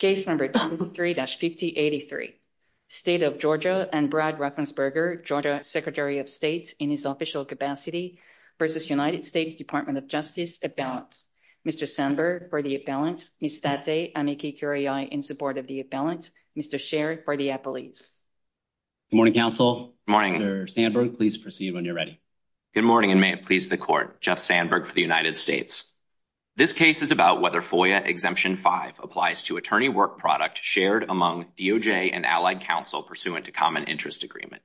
23-5083 State of Georgia and Brad Raffensperger, Georgia Secretary of State, in his official capacity v. United States Department of Justice, at balance. Mr. Sandberg, for the at balance. Ms. Thate, amici curiae, in support of the at balance. Mr. Sherr, for the appellees. Good morning, counsel. Good morning. Mr. Sandberg, please proceed when you're ready. Good morning, and may it please the Court. Jeff Sandberg for the United States. This case is about whether FOIA Exemption 5 applies to attorney work product shared among DOJ and allied counsel pursuant to common interest agreement.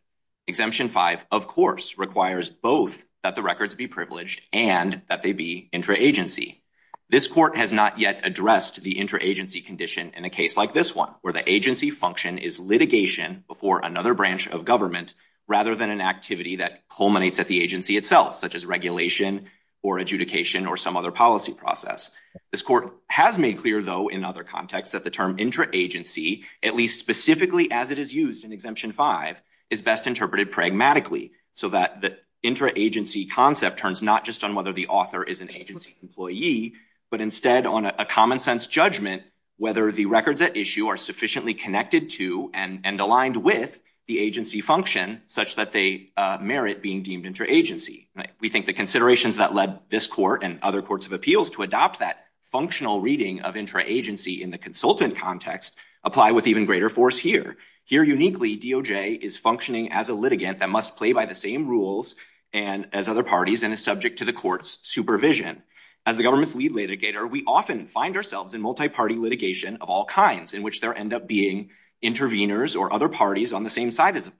Exemption 5, of course, requires both that the records be privileged and that they be intra-agency. This Court has not yet addressed the intra-agency condition in a case like this one, where the agency function is litigation before another branch of government, rather than an activity that culminates at the agency itself, such as regulation or adjudication or some other process. This Court has made clear, though, in other contexts that the term intra-agency, at least specifically as it is used in Exemption 5, is best interpreted pragmatically, so that the intra-agency concept turns not just on whether the author is an agency employee, but instead on a common-sense judgment whether the records at issue are sufficiently connected to and aligned with the agency function such that they merit being deemed intra-agency. We think the considerations that led this Court and other courts of appeals to adopt that functional reading of intra-agency in the consultant context apply with even greater force here. Here, uniquely, DOJ is functioning as a litigant that must play by the same rules as other parties and is subject to the Court's supervision. As the government's lead litigator, we often find ourselves in multi-party litigation of all kinds, in which there end up being interveners or other parties on the same side as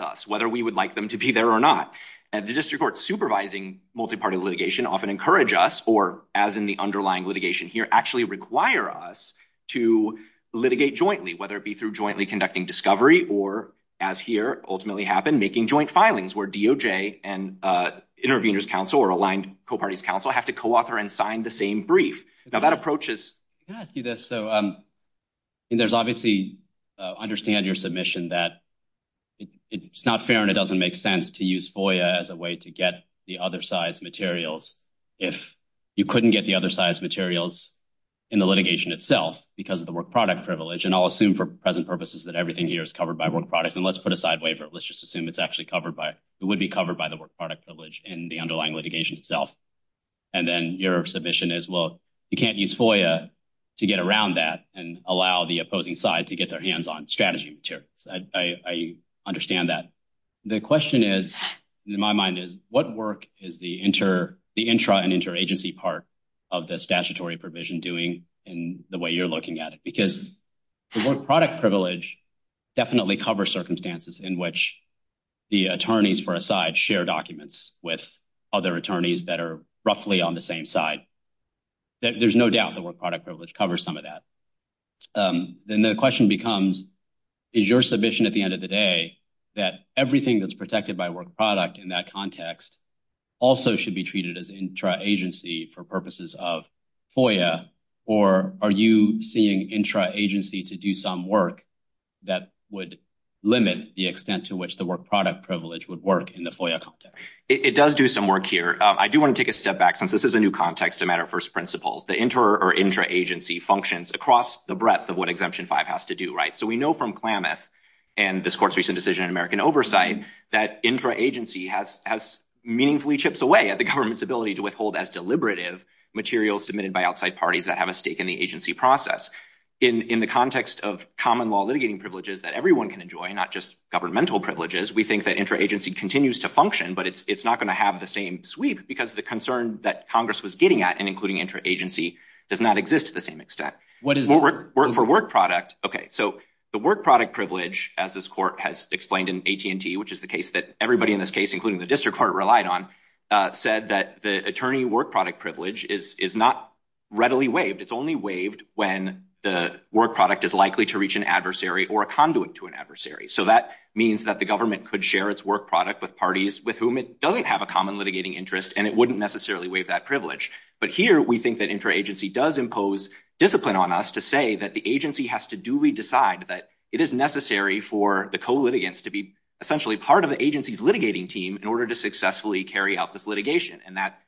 us, whether we would like them to be there or not. The District Courts supervising multi-party litigation often encourage us, or as in the underlying litigation here, actually require us to litigate jointly, whether it be through jointly conducting discovery or, as here ultimately happened, making joint filings, where DOJ and interveners' counsel or aligned co-parties' counsel have to co-author and sign the same brief. Now, that approach is— Can I ask you this? So, there's obviously—understand your submission that it's not fair and it doesn't make sense to use FOIA as a way to get the other side's materials if you couldn't get the other side's materials in the litigation itself because of the work product privilege. And I'll assume, for present purposes, that everything here is covered by work product. And let's put a side waiver. Let's just assume it's actually covered by—it would be covered by the work product privilege in the underlying litigation itself. And then your submission is, well, you can't use FOIA to get around that and allow the opposing side to get their hands on strategy materials. I understand that. The question is, in my mind, is what work is the intra- and interagency part of the statutory provision doing in the way you're looking at it? Because the work product privilege definitely covers circumstances in which the attorneys, for a side, share documents with other attorneys that are roughly on the same side. There's no doubt the work product privilege covers some of that. Then the question becomes, is your submission at the end of the day that everything that's protected by work product in that context also should be treated as intra-agency for purposes of FOIA? Or are you seeing intra- agency to do some work that would limit the extent to which the work product privilege would work in the FOIA context? It does do some work here. I do want to take a step back, since this is a new context, a matter of first principles. The inter- or intra-agency functions across the breadth of what Exemption 5 has to do. So we know from Klamath and this court's recent decision in American Oversight that intra-agency has meaningfully chips away at the government's ability to withhold as deliberative materials submitted by outside parties that have a stake in the agency process. In the context of common law litigating privileges that everyone can enjoy, not just governmental privileges, we think that intra-agency continues to function, but it's not going to have the same sweep because the concern that Congress was getting at in including intra-agency does not exist to the same extent. For work product, okay, so the work product privilege, as this court has explained in AT&T, which is the case that everybody in this case, including the district court, relied on, said that the attorney work product privilege is not readily waived. It's only waived when the work product is likely to reach an adversary or a conduit to an adversary. So that means that the government could share its work product with parties with whom it doesn't have a common litigating interest, and it wouldn't necessarily waive that privilege. But here, we think that intra-agency does impose discipline on us to say that the agency has to duly decide that it is necessary for the co-litigants to be essentially part of the agency's litigating team in order to successfully carry out this litigation. And that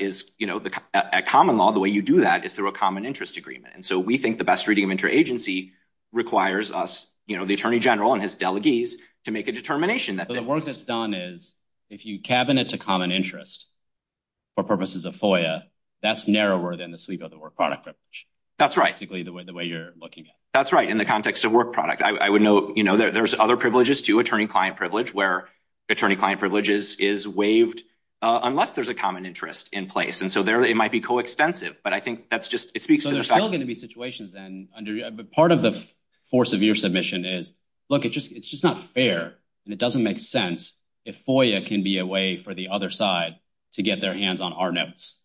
is, you know, at common law, the way you do that is through a common interest agreement. And so we think the best reading of intra-agency requires us, you know, the attorney general and his delegees, to make a determination that— So the work that's done is, if you cabinet to common interest for purposes of FOIA, that's narrower than the sweep of the work product privilege. That's right. Basically, the way you're looking at it. That's right, in the context of work product. I would note, you know, there's other privileges too, attorney-client privilege, where attorney-client privilege is waived unless there's a common interest in place. And so there, it might be co-extensive, but I think that's just, it speaks to the fact— So there's still going to be situations then under, part of the force of your submission is, look, it's just not fair. And it doesn't make sense if FOIA can be a way for the other side to get their hands on our notes.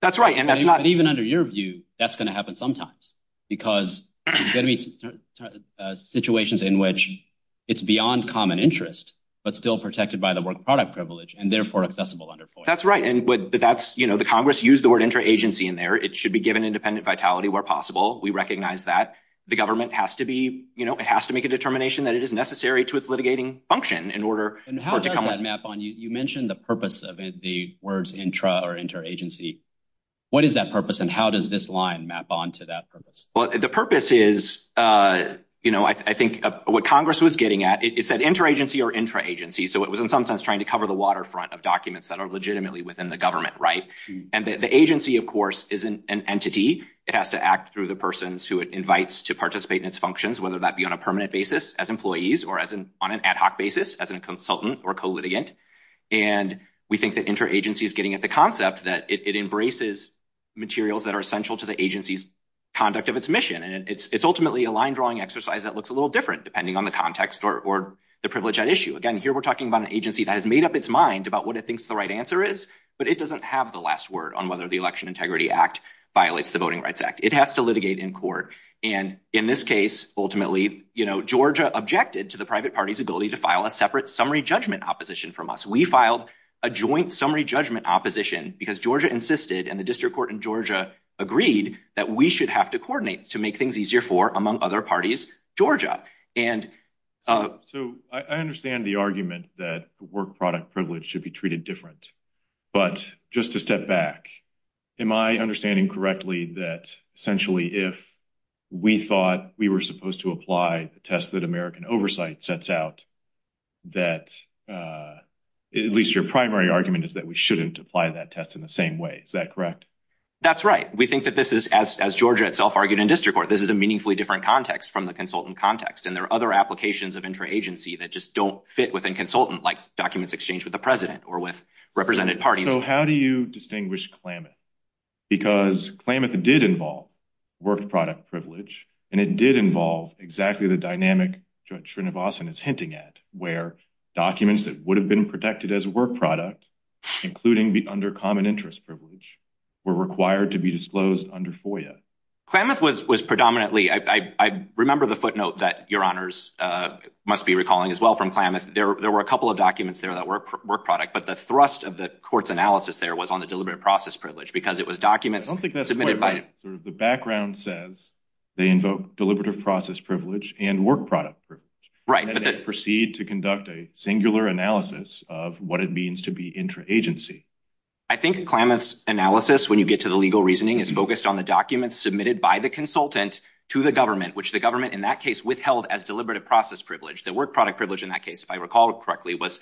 That's right. And that's not— But even under your view, that's going to happen sometimes because there's going to be situations in which it's beyond common interest, but still protected by the work product privilege and therefore accessible under FOIA. That's right. And that's, you know, the Congress used the word intra-agency in there. It should be given independent vitality where possible. We recognize that. The government has to be, you know, it has to make a determination that it is necessary to its litigating function in order for it to come— And how does that map on? You mentioned the purpose of the words intra or inter-agency. What is that purpose and how does this line map onto that purpose? Well, the purpose is, you know, I think what Congress was getting at, it said inter-agency or intra-agency. So it was in some sense trying to cover the waterfront of documents that are legitimately within the government, right? And the agency, of course, is an entity. It has to act through the persons who it invites to participate in its functions, whether that be on a permanent basis as employees or on an ad hoc basis as a consultant or co-litigant. And we think that intra-agency is getting at the concept that it embraces materials that are essential to the agency's conduct of its mission. And it's ultimately a line drawing exercise that looks a little different depending on the context or the privilege at issue. Again, here we're talking about an agency that has made up its mind about what it thinks the right answer is, but it doesn't have the last word on whether the Election Integrity Act violates the Voting Rights Act. It has to litigate in court. And in this case, ultimately, you know, Georgia objected to the private party's ability to file a separate summary judgment opposition from us. We filed a joint summary judgment opposition because Georgia insisted, and the District Court in Georgia agreed, that we should have to coordinate to make things easier for, among other parties, Georgia. So I understand the argument that work-product privilege should be treated different. But just to step back, am I understanding correctly that essentially if we thought we were supposed to apply the test that American Oversight sets out, that at least your primary argument is that we shouldn't apply that test in the same way. Is that correct? That's right. We think that this is, as Georgia itself argued in District Court, this is a meaningfully different context from the consultant context. And there are other applications of intra-agency that just don't fit within consultant, like documents exchanged with the President or represented parties. So how do you distinguish Klamath? Because Klamath did involve work-product privilege, and it did involve exactly the dynamic Judge Srinivasan is hinting at, where documents that would have been protected as work-product, including under common interest privilege, were required to be disclosed under FOIA. Klamath was predominantly, I remember the footnote that Your Honors must be recalling as well from Klamath. There were a couple of documents that were work-product, but the thrust of the Court's analysis there was on the deliberate process privilege, because it was documents submitted by... I don't think that's quite right. The background says they invoke deliberative process privilege and work-product privilege. Right. And then proceed to conduct a singular analysis of what it means to be intra-agency. I think Klamath's analysis, when you get to the legal reasoning, is focused on the documents submitted by the consultant to the government, which the government in that case withheld as deliberative process privilege. The work-product privilege in that case, if I recall correctly, was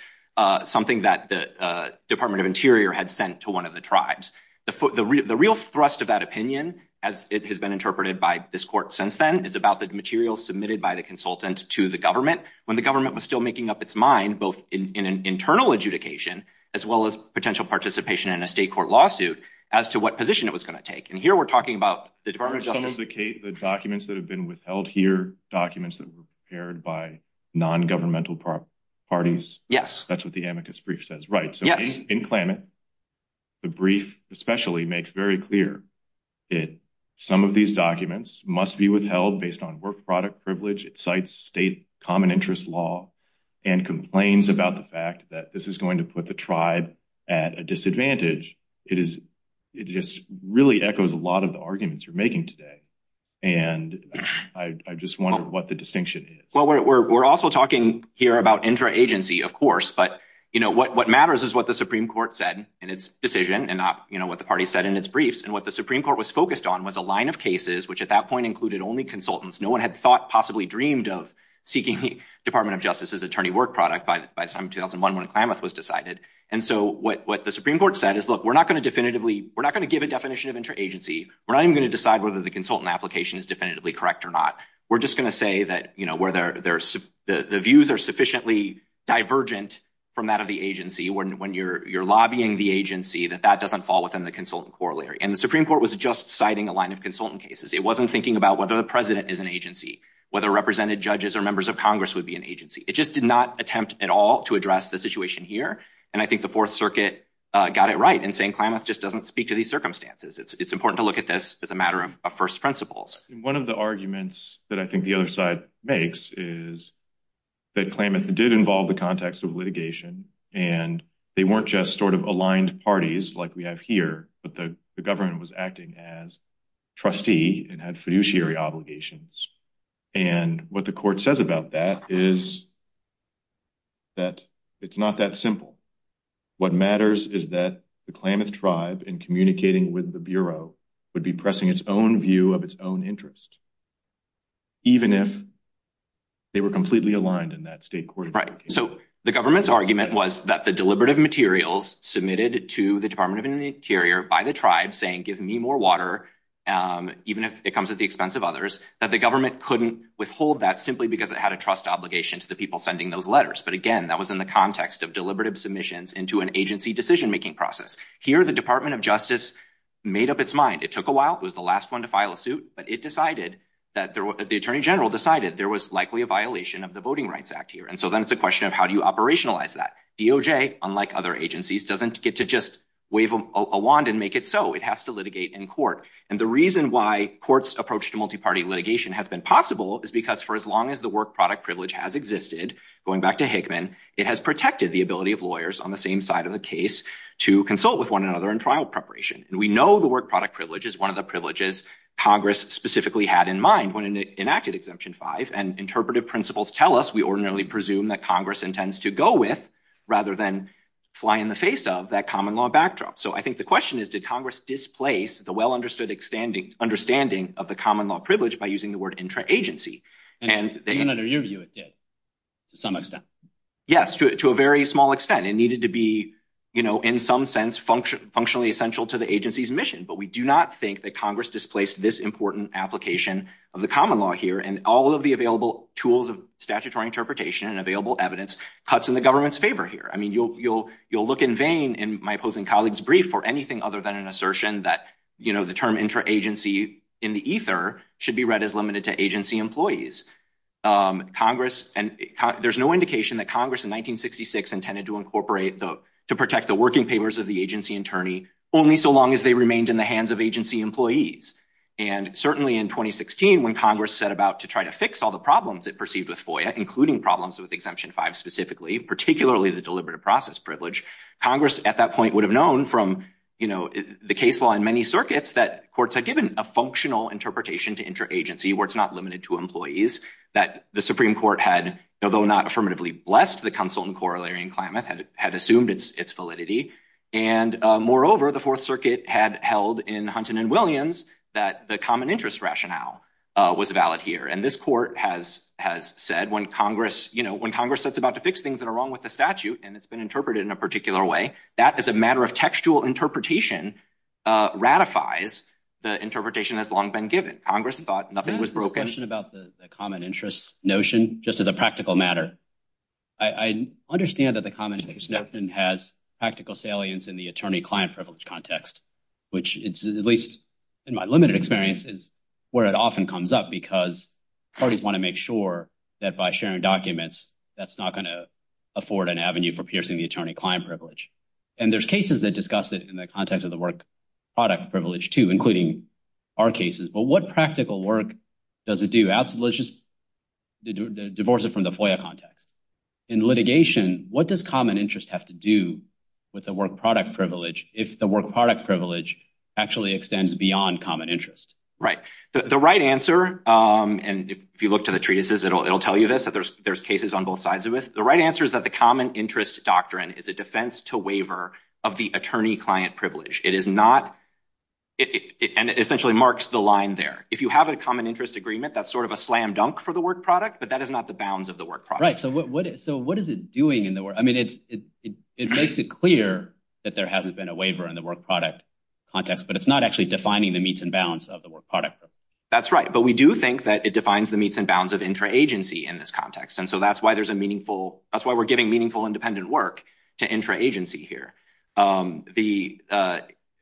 something that the Department of Interior had sent to one of the tribes. The real thrust of that opinion, as it has been interpreted by this Court since then, is about the material submitted by the consultant to the government, when the government was still making up its mind, both in an internal adjudication, as well as potential participation in a state court lawsuit, as to what position it was going to take. And here we're talking about the Department of Justice... Are some of the documents that have been withheld here documents that were prepared by non-governmental parties? Yes. That's what the amicus brief says. Right. So in Klamath, the brief especially makes very clear that some of these documents must be withheld based on work-product privilege. It cites state common interest law and complains about the fact that this is going to put the tribe at a disadvantage. It just really echoes a lot of the arguments you're making today. And I just wonder what the distinction is. We're also talking here about interagency, of course, but what matters is what the Supreme Court said in its decision and not what the party said in its briefs. And what the Supreme Court was focused on was a line of cases, which at that point included only consultants. No one had thought, possibly dreamed, of seeking the Department of Justice's attorney work product by the time 2001, when Klamath was decided. And so what the Supreme Court said is, look, we're not going to definitively... We're not going to give a definition of interagency. We're not even going to decide whether the consultant application is definitively correct or not. We're just going to say that the views are sufficiently divergent from that of the agency when you're lobbying the agency, that that doesn't fall within the consultant corollary. And the Supreme Court was just citing a line of consultant cases. It wasn't thinking about whether the president is an agency, whether represented judges or members of Congress would be an agency. It just did not attempt at all to address the situation here. And I think the Fourth Circuit got it right in saying Klamath just doesn't speak to these circumstances. It's important to look at this as a matter of first principles. And one of the arguments that I think the other side makes is that Klamath did involve the context of litigation, and they weren't just sort of aligned parties like we have here, but the government was acting as trustee and had fiduciary obligations. And what the court says about that is that it's not that simple. What matters is that the Klamath tribe in communicating with the Bureau would be pressing its own view of its own interest, even if they were completely aligned in that state court. Right. So the government's argument was that the deliberative materials submitted to the Department of the Interior by the tribe saying, give me more water, even if it comes at the expense of others, that the government couldn't withhold that simply because it had a trust obligation to the people sending those letters. But again, that was in the context of deliberative submissions into an agency decision-making process. Here, the Department of Justice made up its mind. It took a while. It was the last one to file a suit, but it decided that the Attorney General decided there was likely a violation of the Voting Rights Act here. And so then it's a question of how do you operationalize that. DOJ, unlike other agencies, doesn't get to just wave a wand and make it so. It has to litigate in court. And the reason why courts' approach to multi-party litigation has been possible is because for as long as the work product privilege has existed, going back to Hickman, it has protected the ability of lawyers on the same side of the case to consult with one another in trial preparation. And we know the work product privilege is one of the privileges Congress specifically had in mind when it enacted Exemption 5. And interpretive principles tell us we ordinarily presume that Congress intends to go with rather than fly in the face of that common law backdrop. So I think the question is, did Congress displace the well-understood understanding of the common law privilege by using the word intra-agency? And even under your view, it did to some extent. Yes, to a very small extent. It needed to be, you know, in some sense functionally essential to the agency's mission. But we do not think that Congress displaced this important application of the common law here. And all of the available tools of statutory interpretation and available evidence cuts in the government's favor here. I mean, you'll look in vain in my opposing colleague's brief for anything other than an assertion that, you know, the term intra-agency in the ether should be read as limited to agency employees. Congress, and there's no indication that Congress in 1966 intended to incorporate the, to protect the working papers of the agency attorney, only so long as they remained in the hands of agency employees. And certainly in 2016, when Congress set about to try to fix all the problems it perceived with FOIA, including problems with Exemption 5 specifically, particularly the deliberative process privilege, Congress at that point would have known from, you know, the case law in many circuits that courts had given a functional interpretation to intra-agency where it's not limited to employees, that the Supreme Court had, although not affirmatively blessed, the Consul in Corollary and Klamath had assumed its validity. And moreover, the Fourth Circuit had held in Hunton and Williams that the common interest rationale was valid here. And this court has said when Congress, you know, when Congress sets about to fix things that are wrong with the statute, and it's been interpreted in a particular way, that as a matter of textual interpretation, ratifies the interpretation has long been given. Congress thought nothing was broken. About the common interest notion, just as a practical matter, I understand that the common interest notion has practical salience in the attorney-client privilege context, which it's at least in my limited experience is where it often comes up because parties want to make sure that by sharing documents, that's not going to afford an avenue for piercing the and there's cases that discuss it in the context of the work product privilege too, including our cases, but what practical work does it do? Absolutely, just divorce it from the FOIA context. In litigation, what does common interest have to do with the work product privilege if the work product privilege actually extends beyond common interest? Right. The right answer, and if you look to the treatises, it'll tell you this, that there's cases on both sides of it. The right answer is that the common interest doctrine is a defense to waiver of the attorney-client privilege. It is not, and it essentially marks the line there. If you have a common interest agreement, that's sort of a slam dunk for the work product, but that is not the bounds of the work product. Right. So what is it doing in the work? I mean, it's, it makes it clear that there hasn't been a waiver in the work product context, but it's not actually defining the meets and bounds of the work product. That's right. But we do think that it defines the meets and bounds of intra-agency in this context. And so that's why there's a meaningful, that's why we're giving meaningful independent work to intra-agency here. The,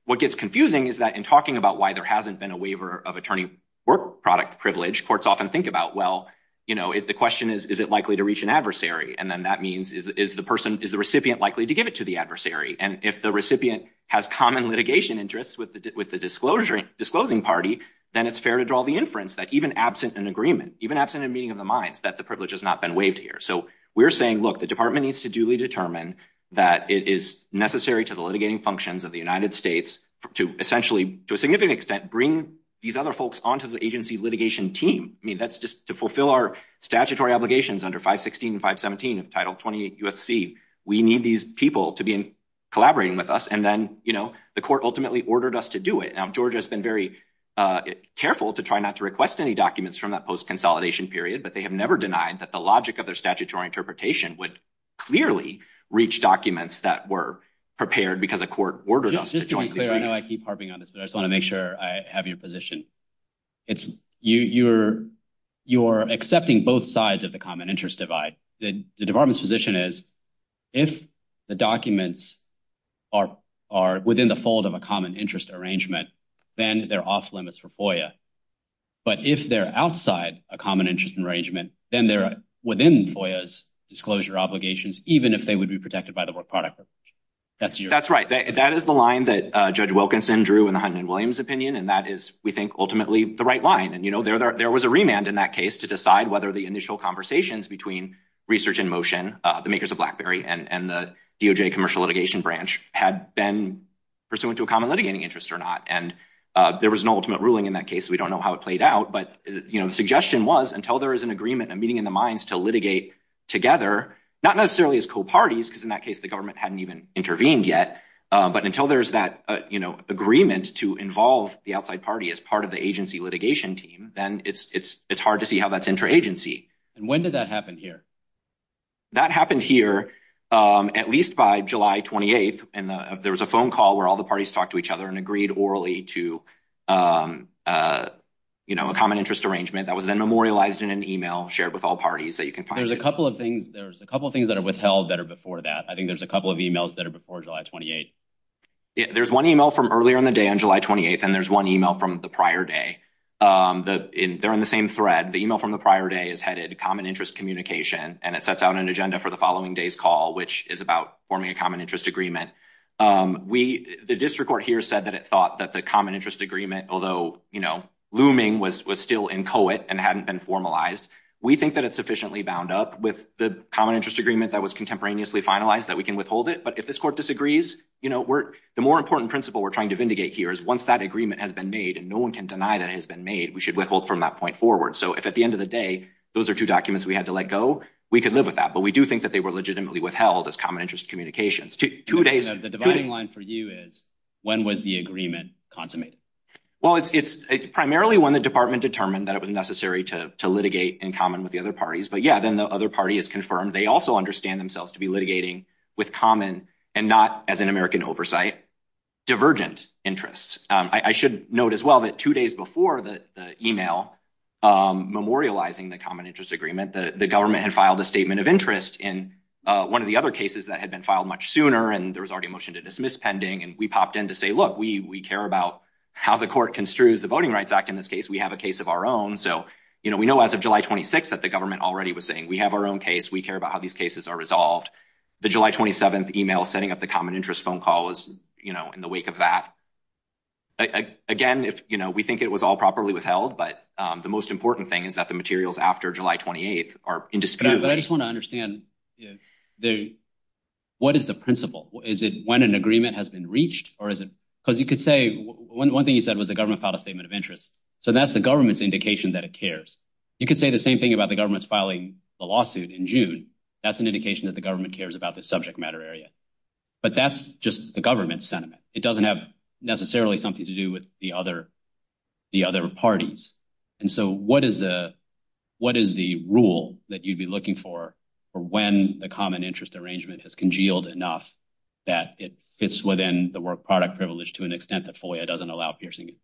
what gets confusing is that in talking about why there hasn't been a waiver of attorney work product privilege, courts often think about, well, you know, if the question is, is it likely to reach an adversary? And then that means is the person, is the recipient likely to give it to the adversary? And if the recipient has common litigation interests with the, with the disclosure, disclosing party, then it's fair to draw the inference that even absent an agreement, even absent a meeting of the minds, that the privilege has not been waived here. So we're saying, look, the department needs to duly determine that it is necessary to the litigating functions of the United States to essentially, to a significant extent, bring these other folks onto the agency litigation team. I mean, that's just to fulfill our statutory obligations under 516 and 517 of Title 28 USC. We need these people to be collaborating with us. And then, you know, the court ultimately ordered us to do it. Now, Georgia has been very careful to try not to request any documents from that post-consolidation period, but they have never denied that the logic of their statutory interpretation would clearly reach documents that were prepared because the court ordered us to join. I know I keep harping on this, but I just want to make sure I have your position. It's you, you're, you're accepting both sides of the common interest divide. The department's position is if the documents are, are within the fold of a common interest arrangement, then they're off limits for FOIA. But if they're outside a common interest arrangement, then they're within FOIA's disclosure obligations, even if they would be protected by the work product provision. That's your- That's right. That is the line that Judge Wilkinson drew in the Hunt and Williams opinion. And that is, we think, ultimately the right line. And, you know, there, there was a remand in that case to decide whether the initial conversations between research in motion, the makers of BlackBerry and the DOJ commercial litigation branch had been pursuant to a common litigating interest or not. And there was an ultimate ruling in that case. We don't know how it played out, but, you know, the suggestion was until there is an agreement and meeting in the minds to litigate together, not necessarily as co-parties, because in that case, the government hadn't even intervened yet. But until there's that, you know, agreement to involve the outside party as part of the agency litigation team, then it's, it's, it's hard to see how that's intra-agency. And when did that happen here? That happened here at least by July 28th. And there was a phone call where all the parties talked to each other and agreed orally to, you know, a common interest arrangement that was then memorialized in an email shared with all parties that you can find. There's a couple of things, there's a couple of things that are withheld that are before that. I think there's a couple of emails that are before July 28th. There's one email from earlier in the day on July 28th, and there's one email from the prior day. They're in the same thread. The email from the prior day is headed common interest communication, and it sets out an agenda for the following day's call, which is about forming a common interest agreement. We, the district court here said that it thought that the common interest agreement, although, you know, looming was, was still in co-it and hadn't been formalized. We think that it's sufficiently bound up with the common interest agreement that was contemporaneously finalized that we can withhold it. But if this court disagrees, you know, we're, the more important principle we're trying to vindicate here is once that agreement has been made, and no one can deny that it has been made, we should withhold from that point forward. So if at the end of the day, those are two documents we had to let go, we could live with that. But we do think that they were legitimately withheld as common interest communications. Two days. The dividing line for you is when was the agreement consummated? Well, it's, it's primarily when the department determined that it was necessary to, to litigate in common with the other parties. But yeah, then the other party is confirmed. They also understand themselves to be litigating with common and not as an American oversight, divergent interests. I should note as well that two days before the email memorializing the common filed a statement of interest in one of the other cases that had been filed much sooner. And there was already a motion to dismiss pending. And we popped in to say, look, we, we care about how the court construes the voting rights act. In this case, we have a case of our own. So, you know, we know as of July 26th that the government already was saying, we have our own case. We care about how these cases are resolved. The July 27th email setting up the common interest phone call was, you know, in the wake of that, again, if, you know, we think it was all properly withheld, but the most important thing is that the materials after July 28th are in dispute. But I just want to understand what is the principle? Is it when an agreement has been reached or is it because you could say one thing you said was the government filed a statement of interest. So that's the government's indication that it cares. You could say the same thing about the government's filing the lawsuit in June. That's an indication that the government cares about the subject matter area, but that's just the government sentiment. It doesn't have necessarily something to do with the other, the other parties. And so what is the, what is the rule that you'd be looking for when the common interest arrangement has congealed enough that it fits within the work product privilege to an extent that FOIA doesn't allow piercing it?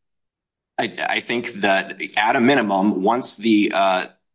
I think that at a minimum, once the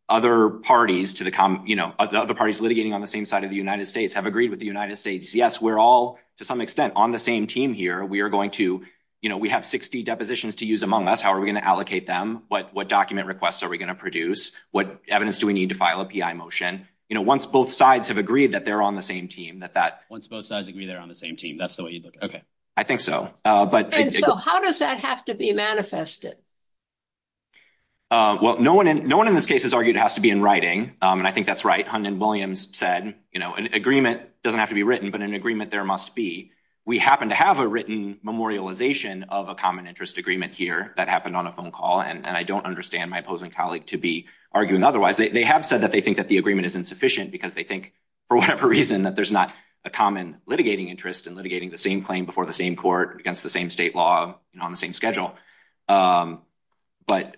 other parties to the common, you know, the other parties litigating on the same side of the United States have agreed with the United States, yes, we're all to some extent on the same team here. We are going to, you know, we have 60 depositions to use among us. How are we going to allocate them? What document requests are we going to produce? What evidence do we need to file a PI motion? You know, once both sides have agreed that they're on the same team, that, that once both sides agree they're on the same team, that's the way you'd look at it. Okay. I think so. But how does that have to be manifested? Well, no one, no one in this case has argued it has to be in writing. And I think that's right. Hunt and Williams said, you know, an agreement doesn't have to be written, but an agreement there must be. We happen to have a written memorialization of a common interest agreement here that happened on a phone call. And I don't understand my opposing colleague to be arguing otherwise. They have said that they think that the agreement is insufficient because they think for whatever reason that there's not a common litigating interest in litigating the same claim before the same court against the same state law on the same schedule. But,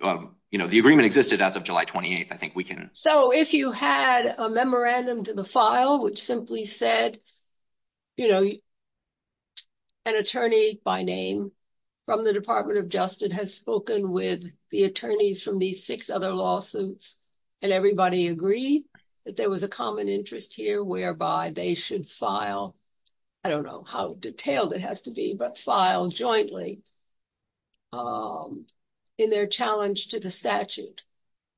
you know, the agreement existed as of July 28th. I think we can. So if you had a memorandum to the file, which simply said, you know, an attorney by name from the Department of Justice has spoken with the attorneys from these six other lawsuits, and everybody agreed that there was a common interest here whereby they should file. I don't know how detailed it has to be, but file jointly in their challenge to the statute.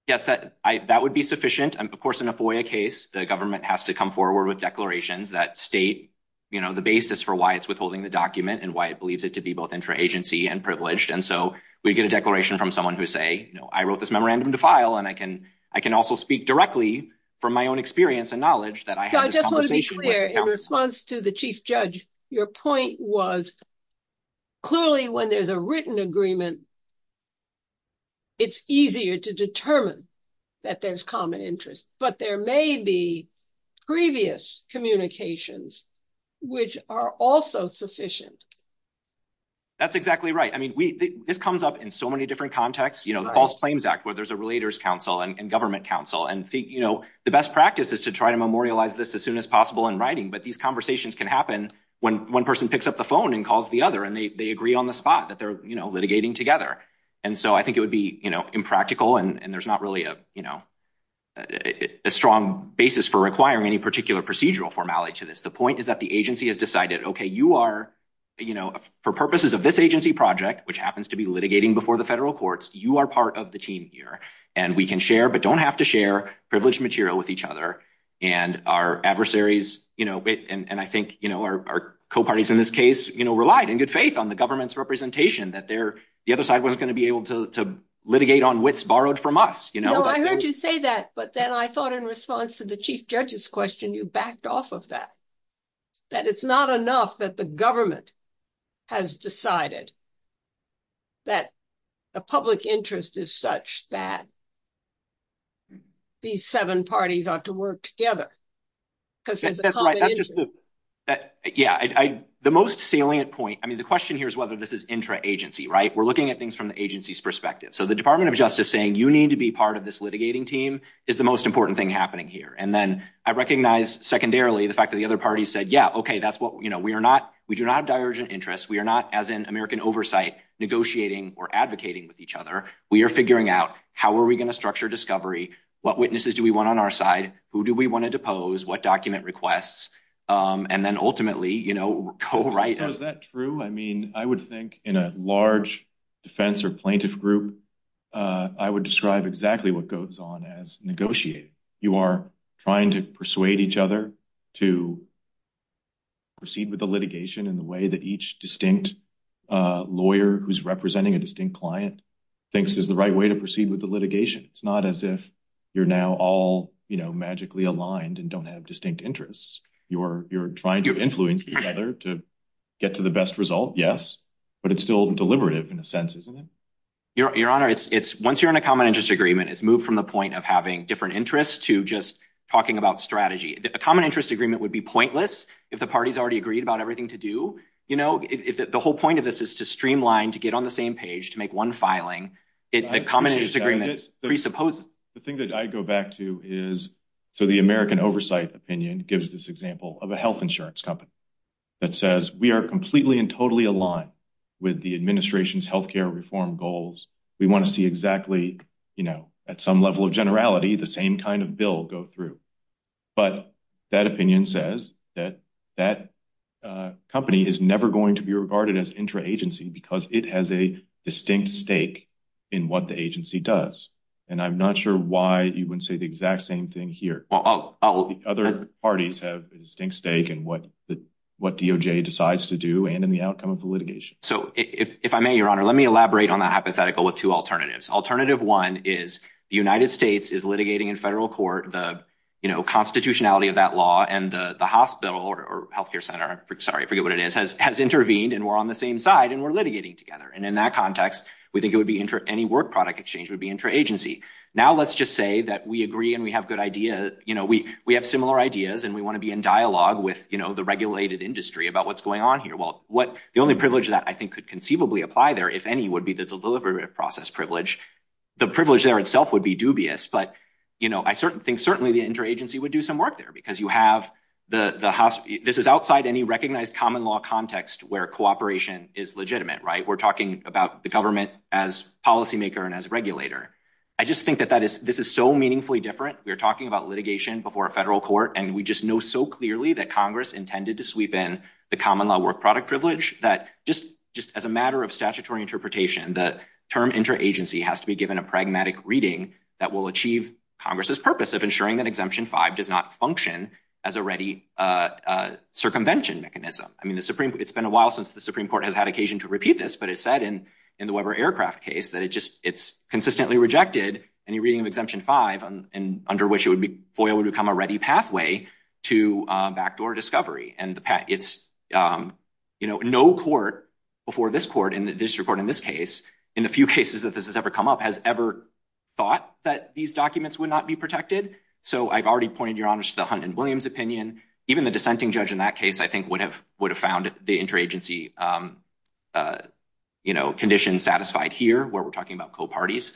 Yes, that would be sufficient. And of course, in a FOIA case, the government has to come forward with declarations that state, you know, the basis for why it's withholding the document and why it believes it to be both intra-agency and privileged. And so we get a declaration from someone who say, you know, I wrote this memorandum to file and I can also speak directly from my own experience and knowledge that I had this conversation with the counsel. In response to the chief judge, your point was clearly when there's a written agreement, it's easier to determine that there's common interest. But there may be previous communications which are also sufficient. That's exactly right. I mean, this comes up in so many different contexts, you know, the False Claims Act, where there's a Relators Council and Government Council and, you know, the best practice is to try to memorialize this as soon as possible in writing. But these conversations can happen when one person picks up the phone and calls the other and they agree on the spot that they're, you know, litigating together. And so I think it would be, you know, impractical and there's not really a, you know, a strong basis for requiring any particular procedural formality to this. The point is that the agency has decided, okay, you are, you know, for purposes of this agency project, which happens to be litigating before the federal courts, you are part of the team here and we can share but don't have to share privileged material with each other. And our adversaries, you know, and I think, you know, our co-parties in this case, you know, relied in good faith on the government's representation that the other side wasn't going to be able to litigate on wits borrowed from us, you know. No, I heard you say that, but then I thought in response to the chief judge's question, you backed off of that. That it's not enough that the government has decided that the public interest is such that these seven parties ought to work together. That's right. That's just the, yeah, the most salient point, I mean, the question here is whether this is intra-agency, right? We're looking at things from the agency's perspective. So the Department of Justice saying you need to be part of this litigating team is the most important thing happening here. And then I recognize secondarily the fact that the other parties said, yeah, okay, that's what, you know, we are not, we do not have divergent interests. We are not, as in American oversight, negotiating or advocating with each other. We are figuring out how are we going to structure discovery? What witnesses do we want on our side? Who do we want to depose? What document requests? And then ultimately, you know, co-writing. So is that true? I mean, I would think in a large defense or plaintiff group, I would describe exactly what goes on as negotiating. You are trying to persuade each other to proceed with the litigation in the way that each distinct lawyer who's representing a distinct client thinks is the right way to proceed with the litigation. It's not as if you're now all, you know, magically aligned and don't have distinct interests. You're trying to influence each other to get to the best result, yes, but it's still deliberative in a sense, isn't it? Your Honor, it's, once you're in a common interest agreement, it's moved from the point of having different interests to just talking about strategy. A common interest agreement would be pointless if the parties already agreed about everything to do. You know, if the whole point of this is to streamline, to get on the same page, to make one filing, the common interest agreement presupposes. The thing that I go back to is, so the American oversight opinion gives this example of a health insurance company that says we are completely and totally aligned with the administration's healthcare reform goals. We want to see exactly, you know, at some level of generality, the same kind of bill go through, but that opinion says that that company is never going to be regarded as intra-agency because it has a distinct stake in what the agency does, and I'm not sure why you wouldn't say the exact same thing here. Other parties have a distinct stake in what DOJ decides to do and in the outcome of the litigation. So if I may, Your Honor, let me elaborate on that hypothetical with two alternatives. Alternative one is the United States is litigating in federal court the, you know, constitutionality of that law and the hospital or healthcare center, sorry, I forget what it is, has intervened and we're on the same side and we're litigating together. And in that context, we think it would be any work product exchange would be intra-agency. Now let's just say that we agree and we have good ideas, you know, we have similar ideas and we want to be in dialogue with, you know, the regulated industry about what's going on here. What the only privilege that I think could conceivably apply there, if any, would be the delivery process privilege. The privilege there itself would be dubious, but, you know, I certainly think certainly the intra-agency would do some work there because you have the hospital. This is outside any recognized common law context where cooperation is legitimate, right? We're talking about the government as policymaker and as regulator. I just think that this is so meaningfully different. We're talking about litigation before a federal court and we just know so clearly that Congress intended to sweep in the common law work product privilege that just as a matter of statutory interpretation, the term intra-agency has to be given a pragmatic reading that will achieve Congress's purpose of ensuring that Exemption 5 does not function as a ready circumvention mechanism. I mean, it's been a while since the Supreme Court has had occasion to repeat this, but it said in the Weber Aircraft case that it's consistently rejected any reading of Exemption 5 under which FOIA would become a ready pathway to backdoor discovery. And it's, you know, no court before this court and the district court in this case, in the few cases that this has ever come up, has ever thought that these documents would not be protected. So I've already pointed your honors to the Hunt and Williams opinion. Even the dissenting judge in that case I think would have found the intra-agency, you know, condition satisfied here where we're talking about co-parties.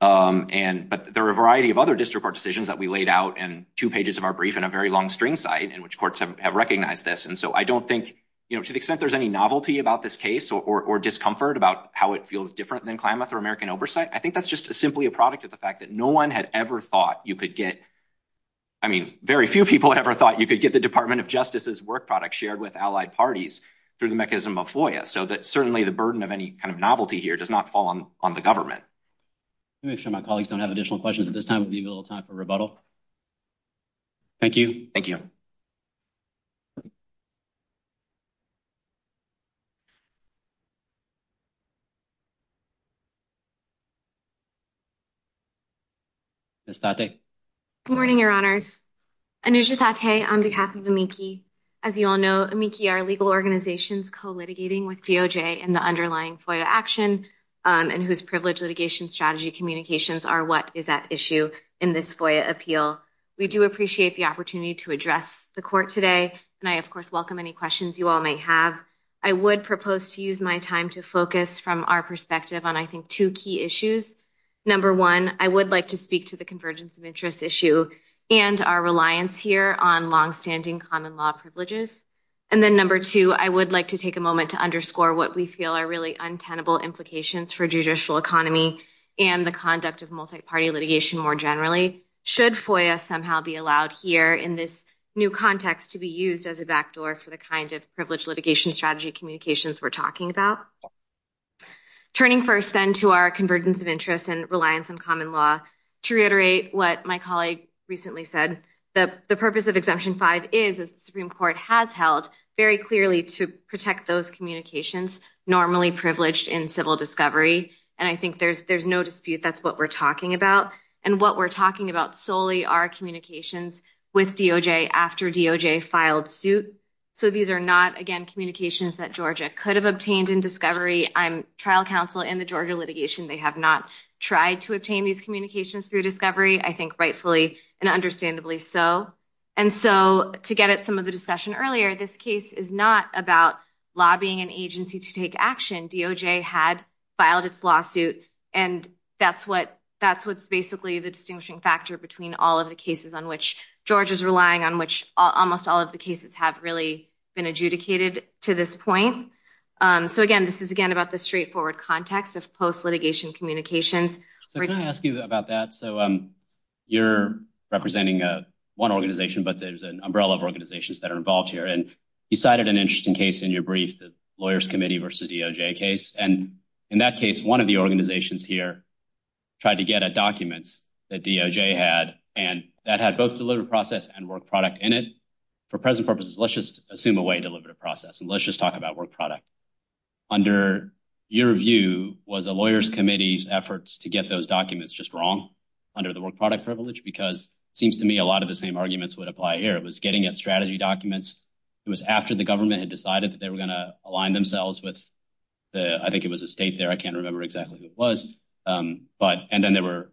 But there are a variety of other district court decisions that we laid out in two pages of our brief in a very long string site in which courts have recognized this. And so I don't think, you know, to the extent there's any novelty about this case or discomfort about how it feels different than Klamath or American Oversight, I think that's just simply a product of the fact that no one had ever thought you could get, I mean, very few people ever thought you could get the Department of Justice's work product shared with allied parties through the mechanism of FOIA. So that certainly the burden of any kind of novelty here does not fall on the government. Let me make sure my colleagues don't have additional questions at this time. We'll leave a little time for rebuttal. Thank you. Thank you. Ms. Thatte. Good morning, your honors. Anusha Thatte on behalf of AMICI. As you all know, AMICI are legal organizations co-litigating with DOJ in the underlying FOIA action and whose privilege litigation strategy communications are what is at issue in this FOIA appeal. We do appreciate the opportunity to address the court today. And I, of course, welcome any questions you all might have. I would propose to use my time to focus from our perspective on, I think, two key issues. Number one, I would like to speak to the convergence of interest issue and our reliance here on longstanding common law privileges. And then number two, I would like to take a moment to underscore what we feel are really untenable implications for judicial economy and the conduct of multi-party litigation more generally. Should FOIA somehow be allowed here in this new context to be used as a backdoor for the kind of privilege litigation strategy communications we're talking about? Turning first then to our convergence of interest and reliance on common law, to reiterate what my colleague recently said, that the purpose of Section 5 is, as the Supreme Court has held, very clearly to protect those communications normally privileged in civil discovery. And I think there's no dispute that's what we're talking about. And what we're talking about solely are communications with DOJ after DOJ filed suit. So these are not, again, communications that Georgia could have obtained in discovery. I'm trial counsel in the Georgia litigation. They have not tried to obtain these communications through discovery, I think rightfully and understandably so. And so to get at some of the discussion earlier, this case is not about lobbying an agency to take action. DOJ had filed its lawsuit and that's what's basically the distinguishing factor between all of the cases on which Georgia's relying, on which almost all of the cases have really been adjudicated to this point. So again, this is again about the straightforward context of post-litigation communications. So can I ask you about that? So you're representing one organization, but there's an umbrella of organizations that are involved here. And you cited an interesting case in your brief, the lawyers' committee versus DOJ case. And in that case, one of the organizations here tried to get at documents that DOJ had, and that had both delivered process and work product in it. For present purposes, let's just assume a way to deliver the process. And let's just talk about work product. Under your view, was a lawyer's committee's efforts to get those documents just wrong under the work product privilege? Because it seems to me a lot of the same arguments would apply here. It was getting at strategy documents. It was after the government had decided that they were going to align themselves with the, I think it was a state there, I can't remember exactly who it was. But, and then there were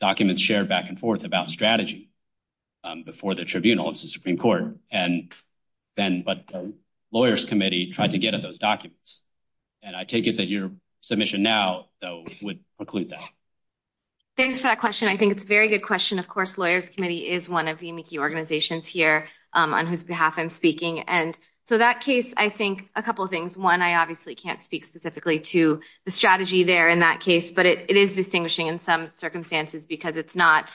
documents shared back and forth about strategy before the tribunal, the Supreme Court. And then, but the lawyers' committee tried to get at those documents. And I take it that your submission now though would preclude that. Thanks for that question. I think it's a very good question. Of course, lawyers' committee is one of the amici organizations here on whose behalf I'm speaking. And so that case, I think a couple of things. One, I obviously can't speak specifically to the strategy there in that case, but it is distinguishing in some circumstances because it's not,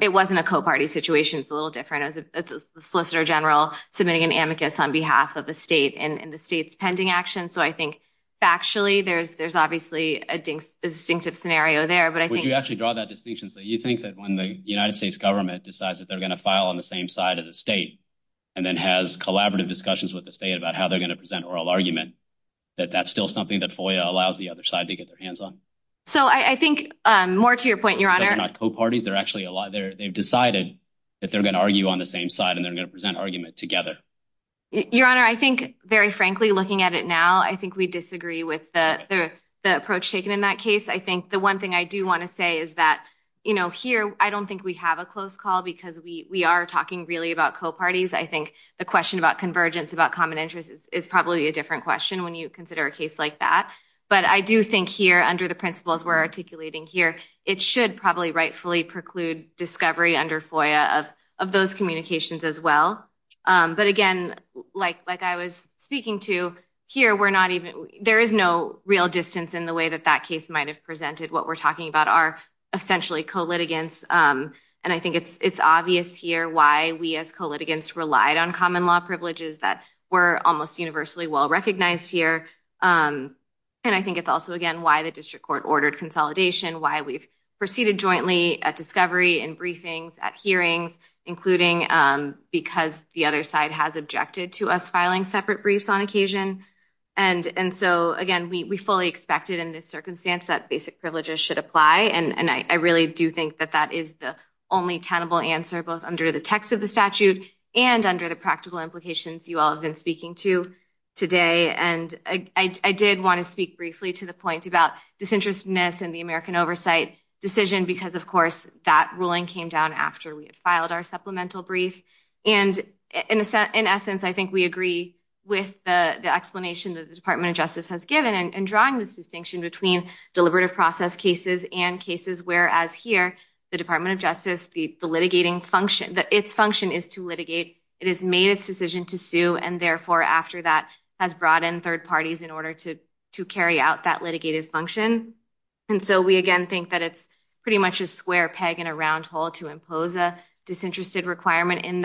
it wasn't a co-party situation. It's a little different. It was a solicitor general submitting an amicus on behalf of a state and the state's pending action. So I think factually there's obviously a distinctive scenario there, but I think- Would you actually draw that distinction? So you think that when the United States government decides that they're going to file on the same side of the state, and then has collaborative discussions with the state about how they're going to present oral argument, that that's still something that FOIA allows the other side to get their hands on? So I think more to your point, your honor- Because they're not co-parties, they've decided that they're going to argue on the same side and they're going to present argument together. Your honor, I think very frankly, looking at it now, I think we disagree with the approach taken in that case. I think the one thing I do want to say is that here, I don't think we have a close call because we are talking really about co-parties. I think the question about convergence, about common interests is probably a different question when you consider a case like that. But I do think here under the principles we're articulating here, it should probably rightfully preclude discovery under FOIA of those communications as well. But again, like I was speaking to here, there is no real distance in the way that that case might have presented what we're talking about are essentially co-litigants. And I think it's obvious here why we as co-litigants relied on common law privileges that were almost universally well-recognized here. And I think it's also, again, why the district court ordered consolidation, why we've proceeded jointly at discovery and briefings at hearings, including because the other side has objected to us filing separate briefs on occasion. And so again, we fully expected in this circumstance that basic privileges should apply. And I really do think that that is the only tenable answer both under the text of the statute and under the practical implications you all have been speaking to today. And I did want to speak briefly to the point about disinterestedness in the American oversight decision because, of course, that ruling came down after we had filed our supplemental brief. And in essence, I think we agree with the explanation that the Department of Justice has given in drawing this distinction between deliberative process cases and cases where, as here, the Department of Justice, the litigating function, its function is to litigate. It has made its decision to sue. And therefore, after that, has brought in third parties in order to carry out that litigated function. And so we, again, think that it's pretty much a square peg in a round hole to impose a disinterested requirement in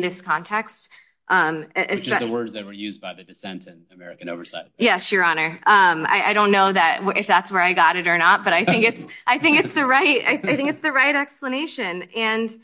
this context. Which is the words that were used by the dissent in American oversight. Yes, Your Honor. I don't know if that's where I got it or not, but I think it's the right explanation. And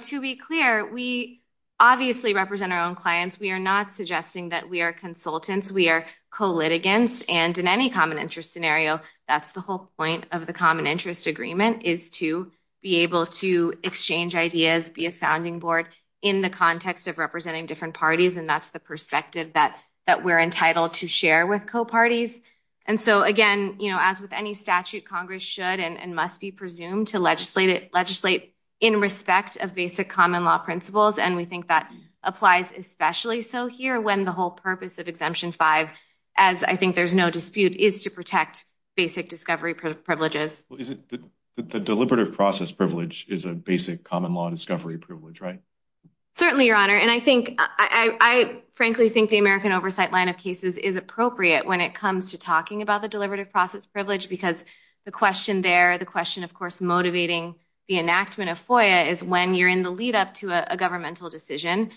to be clear, we obviously represent our own clients. We are not suggesting that we are consultants. We are co-litigants. And in any common interest scenario, that's the whole point of the common interest agreement is to be able to exchange ideas, be a sounding board in the context of representing different parties. And that's the perspective that we're entitled to share with co-parties. And so, again, as with any statute, Congress should and must be presumed to legislate in respect of basic common law principles. And we think that applies especially so here when the whole purpose of Exemption 5, as I think there's no dispute, is to protect basic discovery privileges. Is it that the deliberative process privilege is a basic common law discovery privilege, right? Certainly, Your Honor. And I think, I frankly think the American oversight line of cases is appropriate when it comes to talking about the deliberative process privilege because the question there, the question of course motivating the enactment of FOIA is when you're in the lead up to a governmental decision,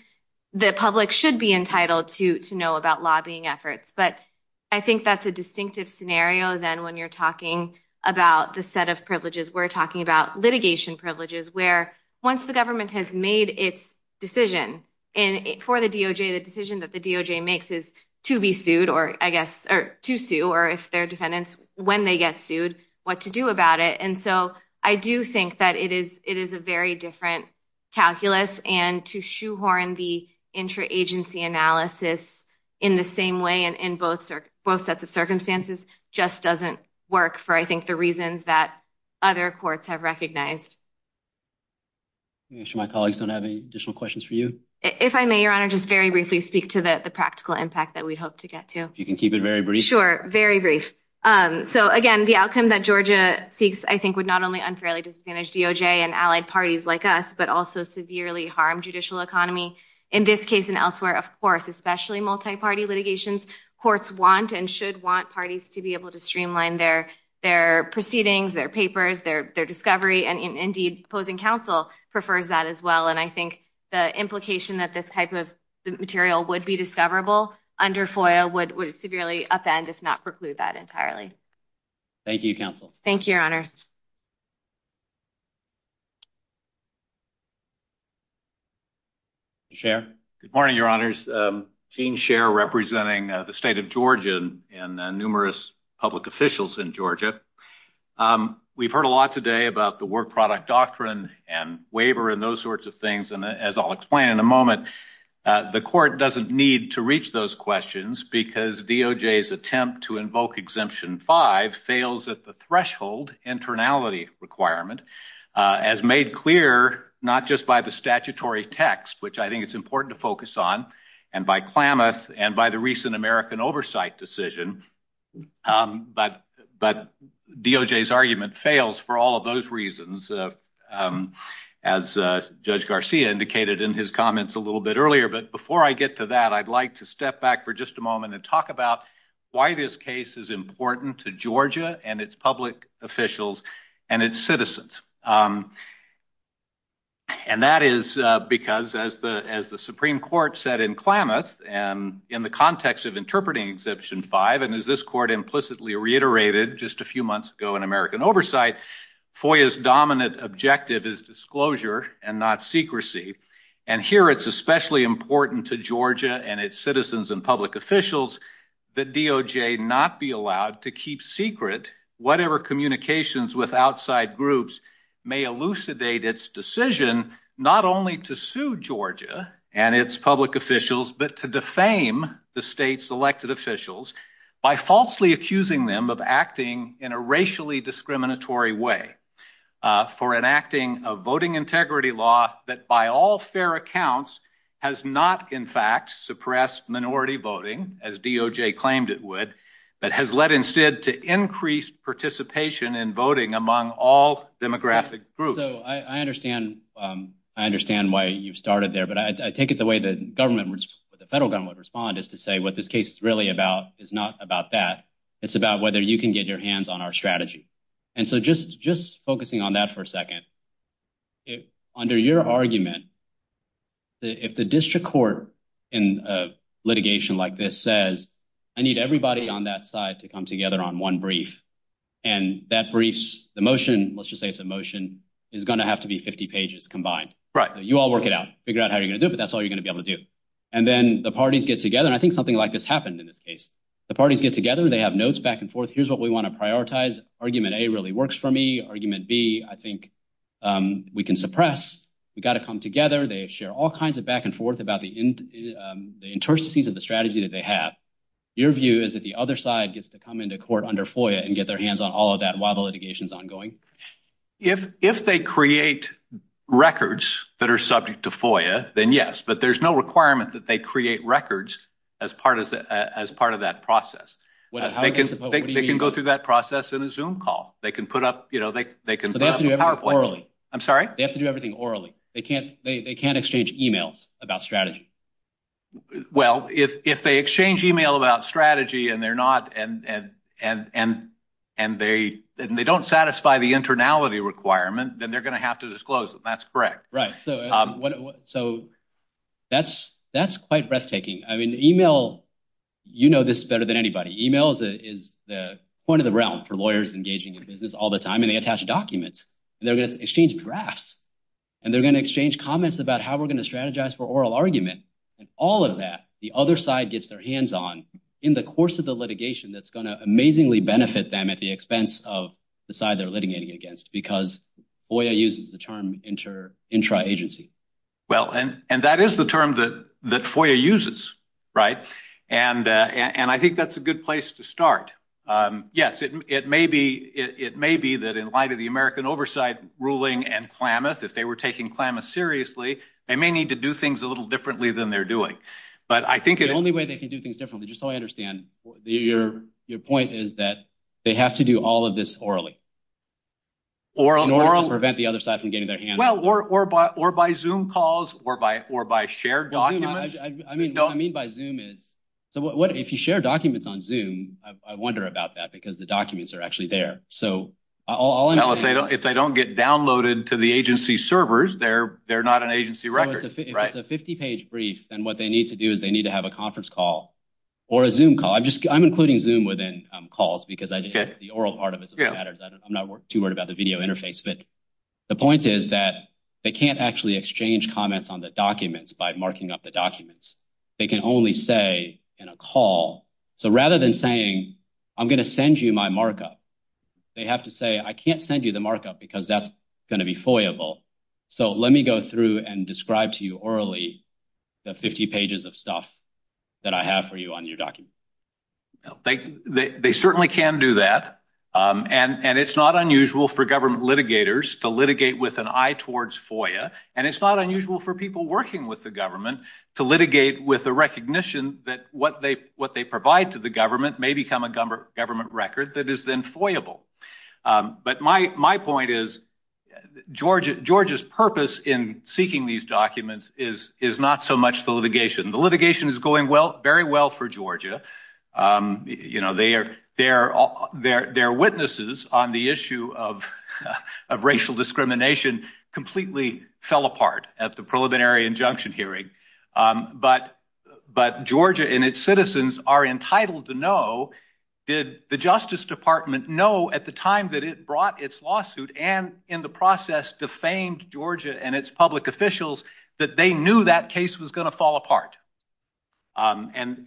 the public should be entitled to know about lobbying efforts. But I think that's a distinctive scenario than when you're talking about the set of privileges. We're talking about litigation privileges where once the government has made its decision for the DOJ, the decision that the DOJ makes is to be sued, or I guess, or to sue, or if their defendants, when they get sued, what to do about it. And so I do think that it is a very different calculus and to shoehorn the intra-agency analysis in the same way and in both sets of circumstances just doesn't work for, I think, the reasons that other courts have recognized. I'm sure my colleagues don't have any additional questions for you. If I may, Your Honor, just very briefly speak to the practical impact that we hope to get to. If you can keep it very brief. Sure, very brief. So again, the outcome that Georgia seeks, I think, would not only unfairly disadvantage DOJ and allied parties like us, but also severely harm judicial economy. In this case and elsewhere, of course, especially multi-party litigations, courts want and should want parties to be able to streamline their proceedings, their papers, their discovery, and indeed opposing counsel prefers that as well. And I think the implication that this type of material would be discoverable under FOIA would severely upend if not preclude that entirely. Thank you, counsel. Thank you, Your Honors. Chair. Good morning, Your Honors. Gene Scher representing the state of Georgia and numerous public officials in Georgia. We've heard a lot today about the work product doctrine and waiver and those sorts of things. And as I'll explain in a moment, the court doesn't need to reach those questions because DOJ's attempt to invoke Exemption 5 fails at the threshold internality requirement as made clear not just by the statutory text, which I think it's important to focus on, and by Klamath and by the recent American Oversight decision. But DOJ's argument fails for all of those reasons. As Judge Garcia indicated in his a little bit earlier, but before I get to that, I'd like to step back for just a moment and talk about why this case is important to Georgia and its public officials and its citizens. And that is because as the Supreme Court said in Klamath and in the context of interpreting Exemption 5 and as this court implicitly reiterated just a few months ago in American Oversight, FOIA's dominant objective is disclosure and not secrecy. And here it's especially important to Georgia and its citizens and public officials that DOJ not be allowed to keep secret whatever communications with outside groups may elucidate its decision not only to sue Georgia and its public officials, but to defame the state's elected officials by falsely accusing them of acting in a racially discriminatory way, for enacting a voting integrity law that by all fair accounts has not in fact suppressed minority voting as DOJ claimed it would, but has led instead to increased participation in voting among all demographic groups. So I understand why you've started there, but I take it the way the government, the federal government would respond is to say what this case is really about is not about that. It's about whether you can get your hands on our strategy. And so just just focusing on that for a second, under your argument, if the district court in a litigation like this says I need everybody on that side to come together on one brief and that brief's the motion, let's just say it's a motion, is going to have to be 50 pages combined. Right. You all work it out, figure out how you're going to do it, but that's all you're going to be able to do. And then the parties get together, I think something like this happened in this case. The parties get together, they have notes back and forth. Here's what we want to prioritize. Argument A really works for me. Argument B, I think we can suppress. We've got to come together. They share all kinds of back and forth about the interstices of the strategy that they have. Your view is that the other side gets to come into court under FOIA and get their hands on all of that while the litigation is ongoing? If they create records that are subject to FOIA, then yes, but there's no requirement that they create records as part of that process. They can go through that process in a Zoom call. They can put up a PowerPoint. They have to do everything orally. I'm sorry? They have to do everything orally. They can't exchange emails about strategy. Well, if they exchange email about strategy and they don't satisfy the internality requirement, then they're going to have to disclose them. That's correct. Right. That's quite breathtaking. Email, you know this better than anybody. Email is the point of the realm for lawyers engaging in business all the time and they attach documents. They're going to exchange drafts and they're going to exchange comments about how we're going to strategize for oral argument. All of that, the other side gets their hands on in the course of the litigation that's going to amazingly benefit them at the expense of the side they're litigating against because FOIA uses the term intra-agency. Well, and that is the term that FOIA uses, right? And I think that's a good place to start. Yes, it may be that in light of the American Oversight ruling and Klamath, if they were taking Klamath seriously, they may need to do things a little differently than they're doing. The only way they can do things differently, just so I prevent the other side from getting their hands on it. Well, or by Zoom calls or by shared documents. What I mean by Zoom is, if you share documents on Zoom, I wonder about that because the documents are actually there. So, if they don't get downloaded to the agency servers, they're not an agency record, right? So, if it's a 50-page brief, then what they need to do is they need to have a conference call or a Zoom call. I'm including Zoom within calls because the oral video interface, but the point is that they can't actually exchange comments on the documents by marking up the documents. They can only say in a call. So, rather than saying, I'm going to send you my markup, they have to say, I can't send you the markup because that's going to be FOIA-able. So, let me go through and describe to you orally the 50 pages of stuff that I have for you on your document. They certainly can do that, and it's not unusual for government litigators to litigate with an eye towards FOIA, and it's not unusual for people working with the government to litigate with the recognition that what they provide to the government may become a government record that is then FOIA-able. But my point is, Georgia's purpose in seeking these documents is not so much the litigation. The litigation is going very well for Georgia. You know, their witnesses on the issue of racial discrimination completely fell apart at the preliminary injunction hearing, but Georgia and its citizens are entitled to know, did the Justice Department know at the time that it brought its lawsuit and in the process defamed Georgia and its public officials that they knew that case was going to fall apart? And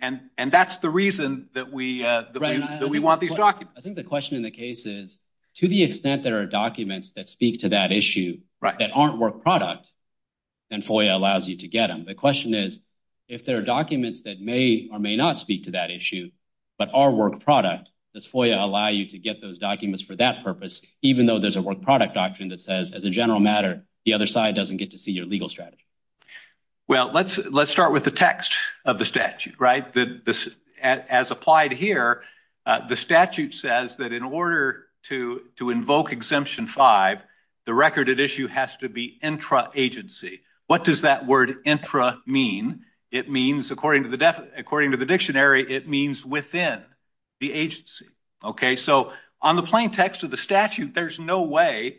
that's the reason that we want these documents. I think the question in the case is, to the extent there are documents that speak to that issue that aren't work product, then FOIA allows you to get them. The question is, if there are documents that may or may not speak to that issue, but are work product, does FOIA allow you to get those documents for that purpose, even though there's a work product doctrine that says, as a general matter, the other side doesn't get to see your legal strategy? Well, let's start with the text of the statute, right? As applied here, the statute says that in order to invoke Exemption 5, the record at issue has to be intra-agency. What does that word intra mean? It means, according to the dictionary, it means within the agency. Okay, so on the plain text of the LDF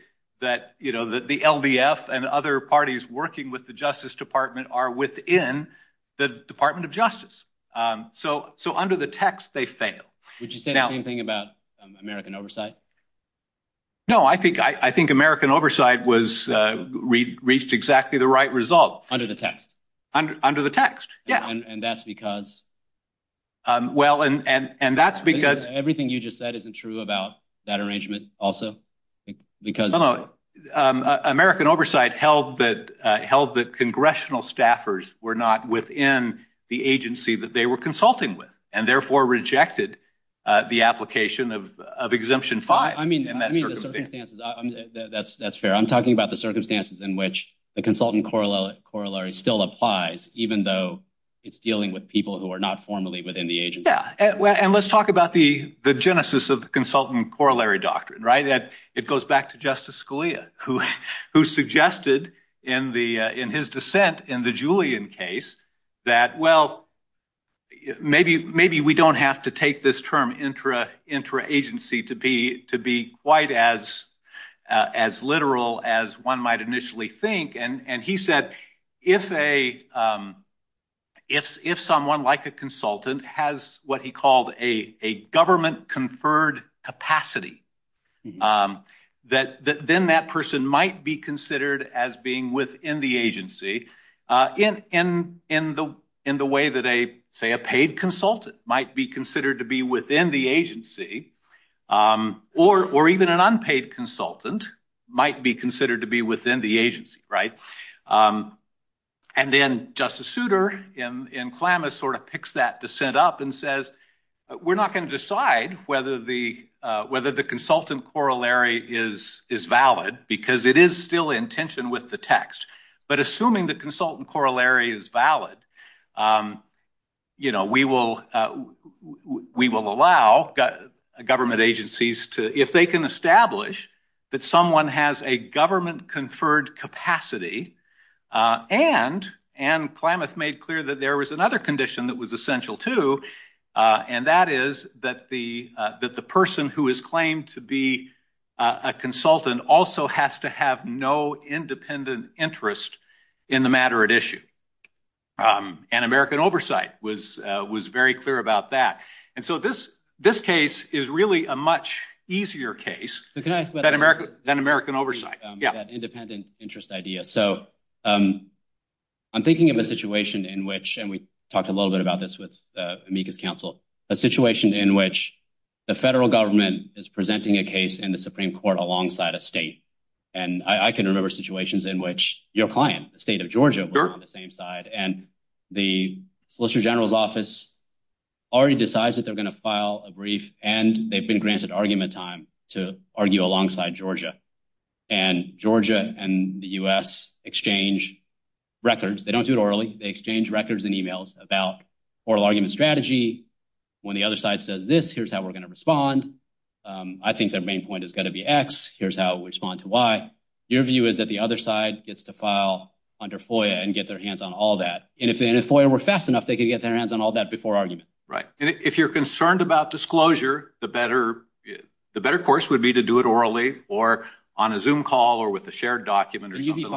and other parties working with the Justice Department are within the Department of Justice. So under the text, they fail. Would you say the same thing about American Oversight? No, I think American Oversight reached exactly the right result. Under the text? Under the text, yeah. And that's because everything you just said isn't true about that arrangement also? No, American Oversight held that congressional staffers were not within the agency that they were consulting with, and therefore rejected the application of Exemption 5. I mean, that's fair. I'm talking about the circumstances in which the consultant corollary still applies, even though it's dealing with people who are not formally within the agency. Yeah, and let's talk about the genesis of the consultant corollary doctrine, right? It goes back to Justice Scalia, who suggested in his dissent in the Julian case that, well, maybe we don't have to take this term intra-agency to be quite as literal as one might initially think. And he said, if someone like a consultant has what he called a government-conferred capacity, then that person might be considered as being within the agency in the way that, say, a paid consultant might be considered to be within the agency, or even an unpaid consultant might be considered to be within the agency, right? And then Justice Souter in Klamath sort of picks that dissent up and says, we're not going to decide whether the consultant corollary is valid, because it is still in tension with the text. But assuming the consultant corollary is valid, we will allow government agencies to, if they can establish that someone has a government-conferred capacity, and Klamath made clear that there was another condition that was essential too, and that is that the person who is claimed to be a consultant also has to have no independent interest in the matter at issue. And American Oversight was very clear about that. And so this case is really a much easier case than American Oversight. That independent interest idea. So I'm thinking of a situation in which, and we talked a little bit about this with Amica's counsel, a situation in which the federal government is presenting a case in the Supreme Court alongside a state. And I can remember situations in which your client, the state of Georgia, was on the same side, and the Solicitor General's office already decides that they're going to file a brief, and they've been granted argument time to argue alongside Georgia. And Georgia and the U.S. exchange records. They don't do it orally. They exchange records and emails about oral argument strategy. When the other side says this, here's how we're going to respond. I think their main point is going to be X. Here's how we respond to Y. Your view is that the other side gets to file under FOIA and get their hands on all that. And if FOIA were fast enough, they could get their hands on all that before argument. Right. And if you're concerned about disclosure, the better course would be to do it orally or on a Zoom call or with a shared document or something like that. You'd be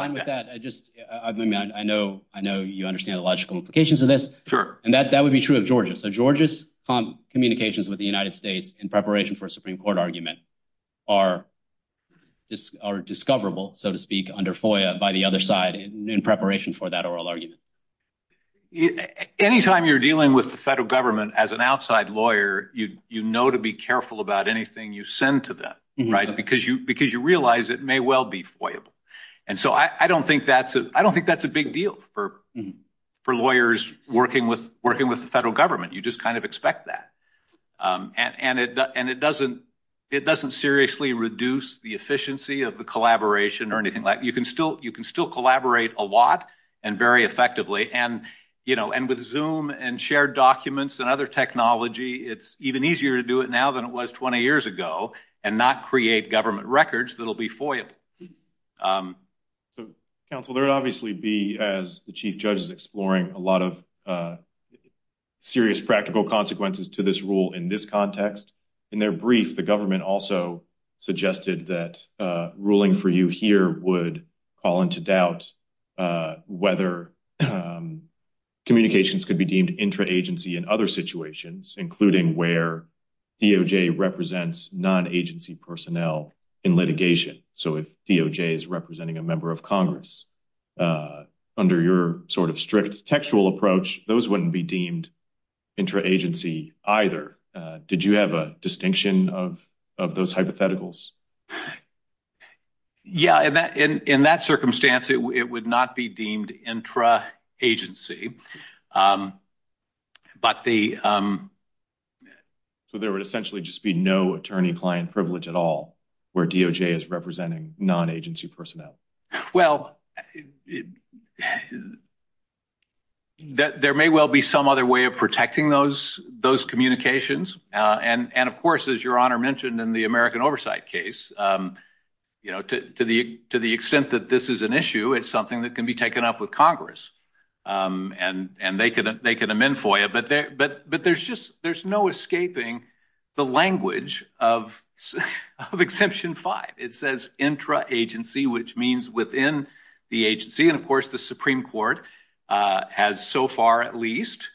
fine with that. I know you understand the logical implications of this. Sure. And that would be true of Georgia. So Georgia's communications with the Supreme Court argument are discoverable, so to speak, under FOIA by the other side in preparation for that oral argument. Anytime you're dealing with the federal government as an outside lawyer, you know to be careful about anything you send to them, right? Because you realize it may well be FOIA-able. And so I don't think that's a big deal for lawyers working with federal government. You just kind of expect that. And it doesn't seriously reduce the efficiency of the collaboration or anything like that. You can still collaborate a lot and very effectively. And with Zoom and shared documents and other technology, it's even easier to do it now than it was 20 years ago and not create government records that'll be FOIA-able. So, Counsel, there would obviously be, as the Chief Judge is exploring, a lot of serious practical consequences to this rule in this context. In their brief, the government also suggested that ruling for you here would call into doubt whether communications could be deemed intra-agency in other situations, including where DOJ represents non-agency personnel in litigation. So if DOJ is representing a member of Congress under your sort of strict textual approach, those wouldn't be deemed intra-agency either. Did you have a distinction of those hypotheticals? Yeah, in that circumstance, it would not be deemed intra-agency. So there would essentially just be no attorney-client privilege at all where DOJ is representing non-agency personnel. Well, there may well be some other way of protecting those communications. And, of course, as your Honor mentioned in the American Oversight case, to the extent that this is an issue, it's something that can be taken up with Congress and they can amend FOIA. But there's no escaping the language of Exemption 5. It says intra-agency, which means within the agency. And, of course, the Supreme Court has so far at least...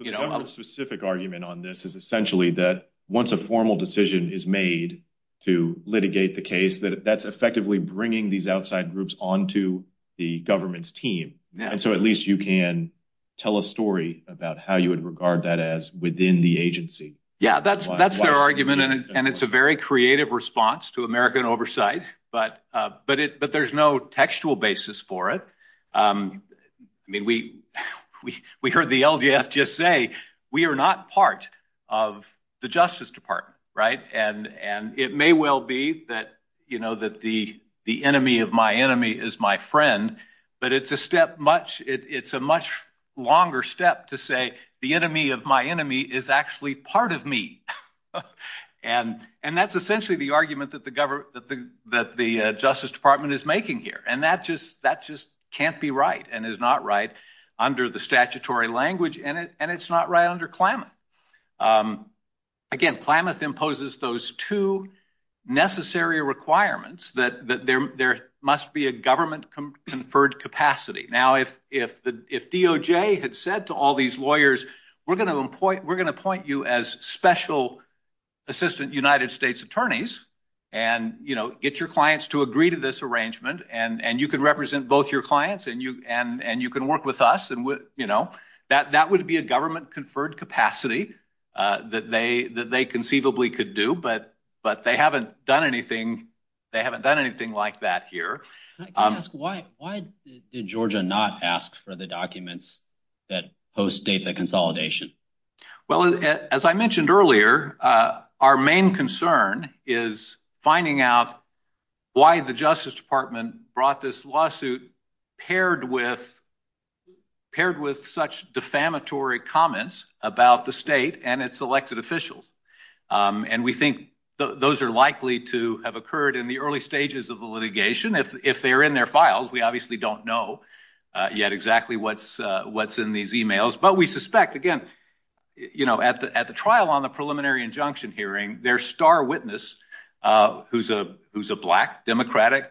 The government-specific argument on this is essentially that once a formal decision is made to litigate the case, that that's effectively bringing these outside groups onto the government's team. And so at least you can tell a story about how you would regard that as within the agency. Yeah, that's their argument. And it's a very creative response to American Oversight, but there's no textual basis for it. I mean, we heard the LDF just say, we are not part of the Justice Department, right? And it may well be that the enemy of my enemy is my friend, but it's a step much... It's a much longer step to say the enemy of my enemy is actually part of me. And that's essentially the argument that the Justice Department is making here. And that just can't be right and is not right under the statutory language in it, and it's not right under Klamath. Again, Klamath imposes those two necessary requirements that there must be a government-conferred capacity. Now, if DOJ had said to all these lawyers, we're going to appoint you as special assistant United States attorneys, and get your clients to agree to this arrangement, and you can represent both your clients, and you can work with us, and that would be a government-conferred capacity that they conceivably could do, but they haven't done anything like that here. Can I ask, why did Georgia not ask for the documents that postdate the consolidation? Well, as I mentioned earlier, our main concern is finding out why the Justice Department brought this lawsuit paired with such defamatory comments about the state and its elected officials. And we think those are likely to have occurred in the early stages of the litigation. If they're in their files, we obviously don't know yet exactly what's in these emails. But we suspect, again, at the trial on the preliminary injunction hearing, their star witness, who's a black Democratic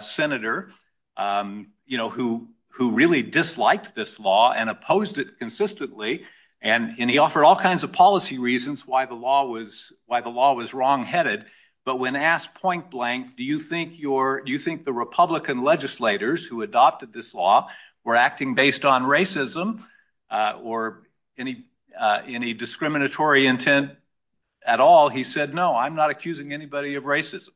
senator who really disliked this law and opposed it consistently, and he offered all kinds of policy reasons why the law was wrong-headed, but when asked point-blank, do you think the Republican legislators who adopted this law were acting based on racism or any discriminatory intent at all, he said, no, I'm not accusing anybody of racism.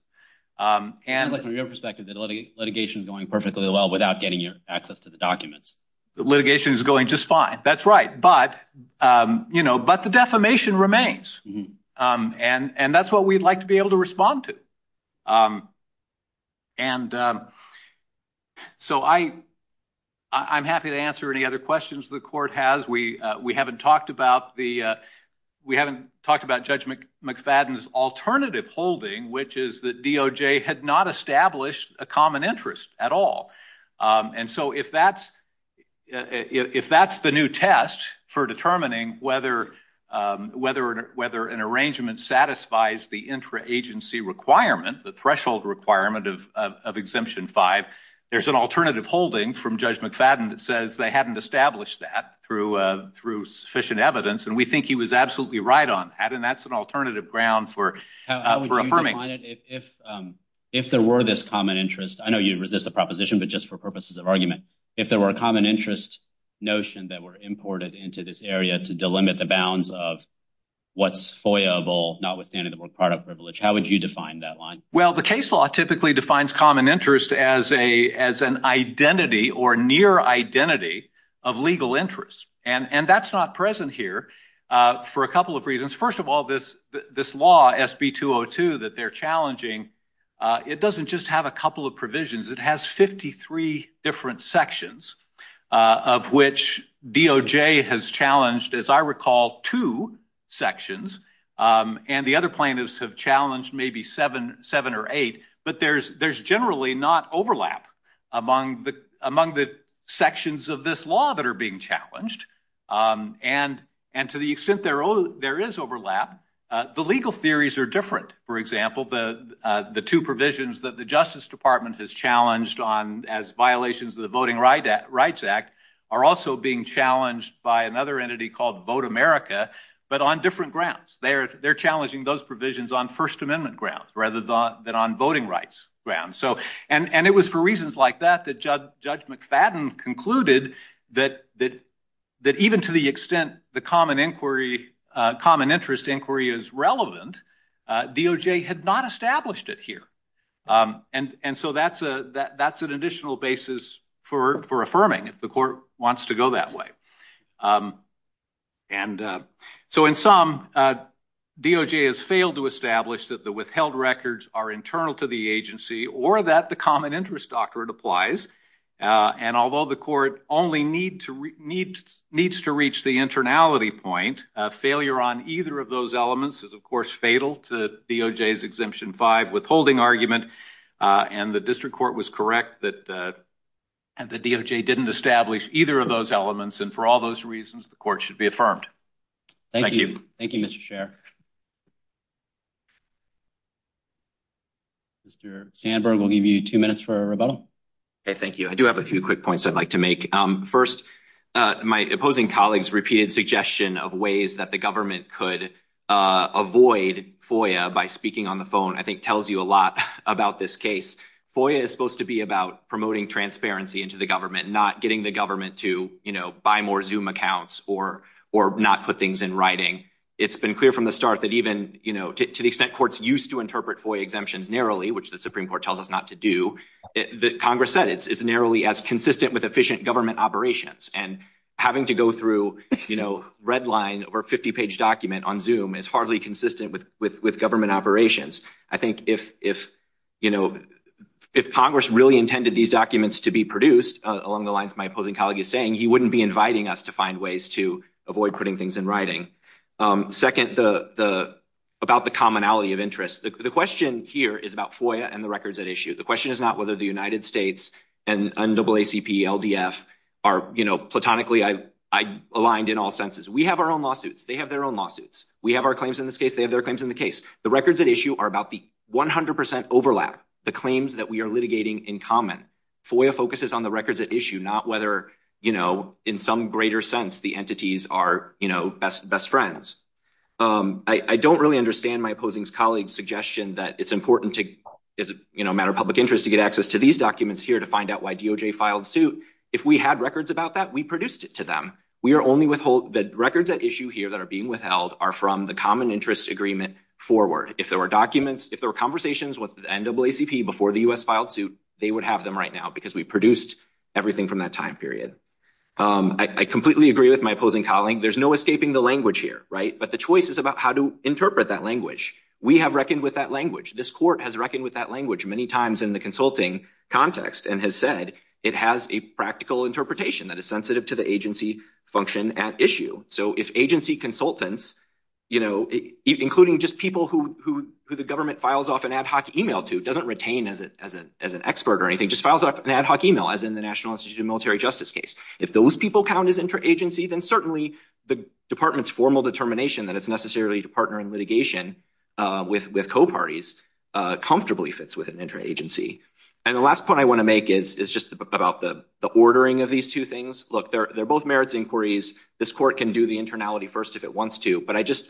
It sounds like, from your perspective, the litigation is going perfectly well without getting your access to the documents. The litigation is going just fine, that's right, but the defamation remains. And that's what we'd like to be able to respond to. And so I'm happy to answer any other questions the court has. We haven't talked about Judge McFadden's alternative holding, which is that DOJ had not established a common interest at all. And so if that's the new test for determining whether an arrangement satisfies the intra-agency requirement, the threshold requirement of Exemption 5, there's an alternative holding from Judge McFadden that says they hadn't established that through sufficient evidence, and we think he was absolutely right on that, and that's an alternative ground for affirming. How would you define it if there were this common interest? I know you resist the proposition, but just for purposes of argument, if there were a common interest notion that were imported into this area to delimit the bounds of what's FOIA-able, notwithstanding the word product privilege, how would you define that line? Well, the case law typically defines common interest as an identity or near identity of legal interest, and that's not present here for a couple of reasons. First of all, this law, SB 202, that they're challenging, it doesn't just have a couple of provisions. It has 53 different sections of which DOJ has challenged, as I recall, two sections, and the other plaintiffs have challenged maybe seven or eight, but there's generally not overlap among the sections of this law that are being challenged, and to the extent there is overlap, the legal theories are different. For example, the two provisions that the Justice Department has challenged as violations of the Voting Rights Act are also being challenged by another entity called Vote America, but on different grounds. They're challenging those provisions on First Amendment grounds rather than on voting rights grounds, and it was for reasons like that that Judge McFadden concluded that even to the extent the common interest inquiry is relevant, DOJ had not established it here, and so that's an additional basis for affirming if the court wants to go that way, and so in sum, DOJ has failed to establish that the withheld records are internal to the agency or that the common interest doctrine applies, and although the court only needs to reach the internality point, failure on either of those elements is, of course, fatal to DOJ's Exemption 5 withholding argument, and the District Court was correct that the DOJ didn't establish either of those elements, and for all those reasons, the court should be affirmed. Thank you. Thank you, Mr. Chair. Mr. Sandberg, we'll give you two minutes for a rebuttal. Okay, thank you. I do have a few quick points I'd like to make. First, my opposing colleague's repeated suggestion of ways that the government could avoid FOIA by speaking on the phone, I think, tells you a lot about this case. FOIA is supposed to be about promoting transparency into the government, not getting the government to, you know, buy more Zoom accounts or not put things in writing. It's been clear from the start that even, you know, to the extent courts used to interpret FOIA exemptions narrowly, the Supreme Court tells us not to do, that Congress said it's narrowly as consistent with efficient government operations, and having to go through, you know, red line over a 50-page document on Zoom is hardly consistent with government operations. I think if, you know, if Congress really intended these documents to be produced, along the lines my opposing colleague is saying, he wouldn't be inviting us to find ways to avoid putting things in writing. Second, about the commonality of interest. The question here is about FOIA and the records at issue. The question is not whether the United States and NAACP, LDF are, you know, platonically aligned in all senses. We have our own lawsuits. They have their own lawsuits. We have our claims in this case. They have their claims in the case. The records at issue are about the 100 percent overlap, the claims that we are litigating in common. FOIA focuses on the records at issue, not whether, you know, in some greater sense the entities are, you know, best friends. I don't really understand my opposing colleague's suggestion that it's important to, as a matter of public interest, to get access to these documents here to find out why DOJ filed suit. If we had records about that, we produced it to them. We are only withhold, the records at issue here that are being withheld are from the common interest agreement forward. If there were documents, if there were conversations with NAACP before the U.S. filed suit, they would have them right now because we produced everything from that time period. I completely agree with my opposing colleague. There's no escaping the language here, right? But the choice is about how to interpret that language. We have reckoned with that language. This court has reckoned with that language many times in the consulting context and has said it has a practical interpretation that is sensitive to the agency function at issue. So if agency consultants, you know, including just people who the government files off an ad hoc email to, doesn't retain as an expert or anything, just files off an ad hoc email as in the National Institute of Military Justice case. If those people count as interagency, then certainly the department's formal determination that it's necessarily to partner in litigation with co-parties comfortably fits with an interagency. And the last point I want to make is just about the ordering of these two things. Look, they're both merits inquiries. This court can do the internality first if it wants to. But I just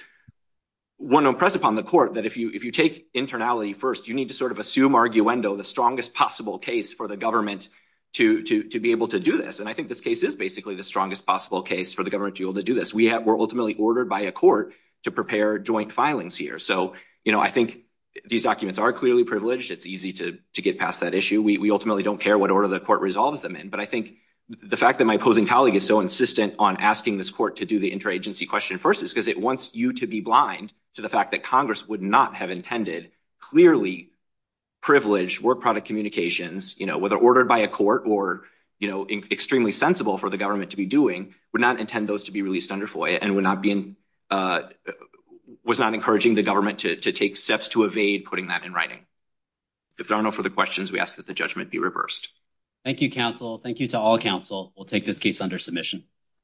want to impress upon the court that if you take internality first, you need to sort of assume the strongest possible case for the government to be able to do this. And I think this case is basically the strongest possible case for the government to be able to do this. We're ultimately ordered by a court to prepare joint filings here. So, you know, I think these documents are clearly privileged. It's easy to get past that issue. We ultimately don't care what order the court resolves them in. But I think the fact that my opposing colleague is so insistent on asking this court to do the interagency question first is because it wants you to be blind to the fact that Congress would not have intended clearly privileged work product communications, you know, whether ordered by a court or, you know, extremely sensible for the government to be doing, would not intend those to be released under FOIA and would not be in, was not encouraging the government to take steps to evade putting that in writing. If there are no further questions, we ask that the judgment be reversed. Thank you, counsel. Thank you to all counsel. We'll take this case under submission.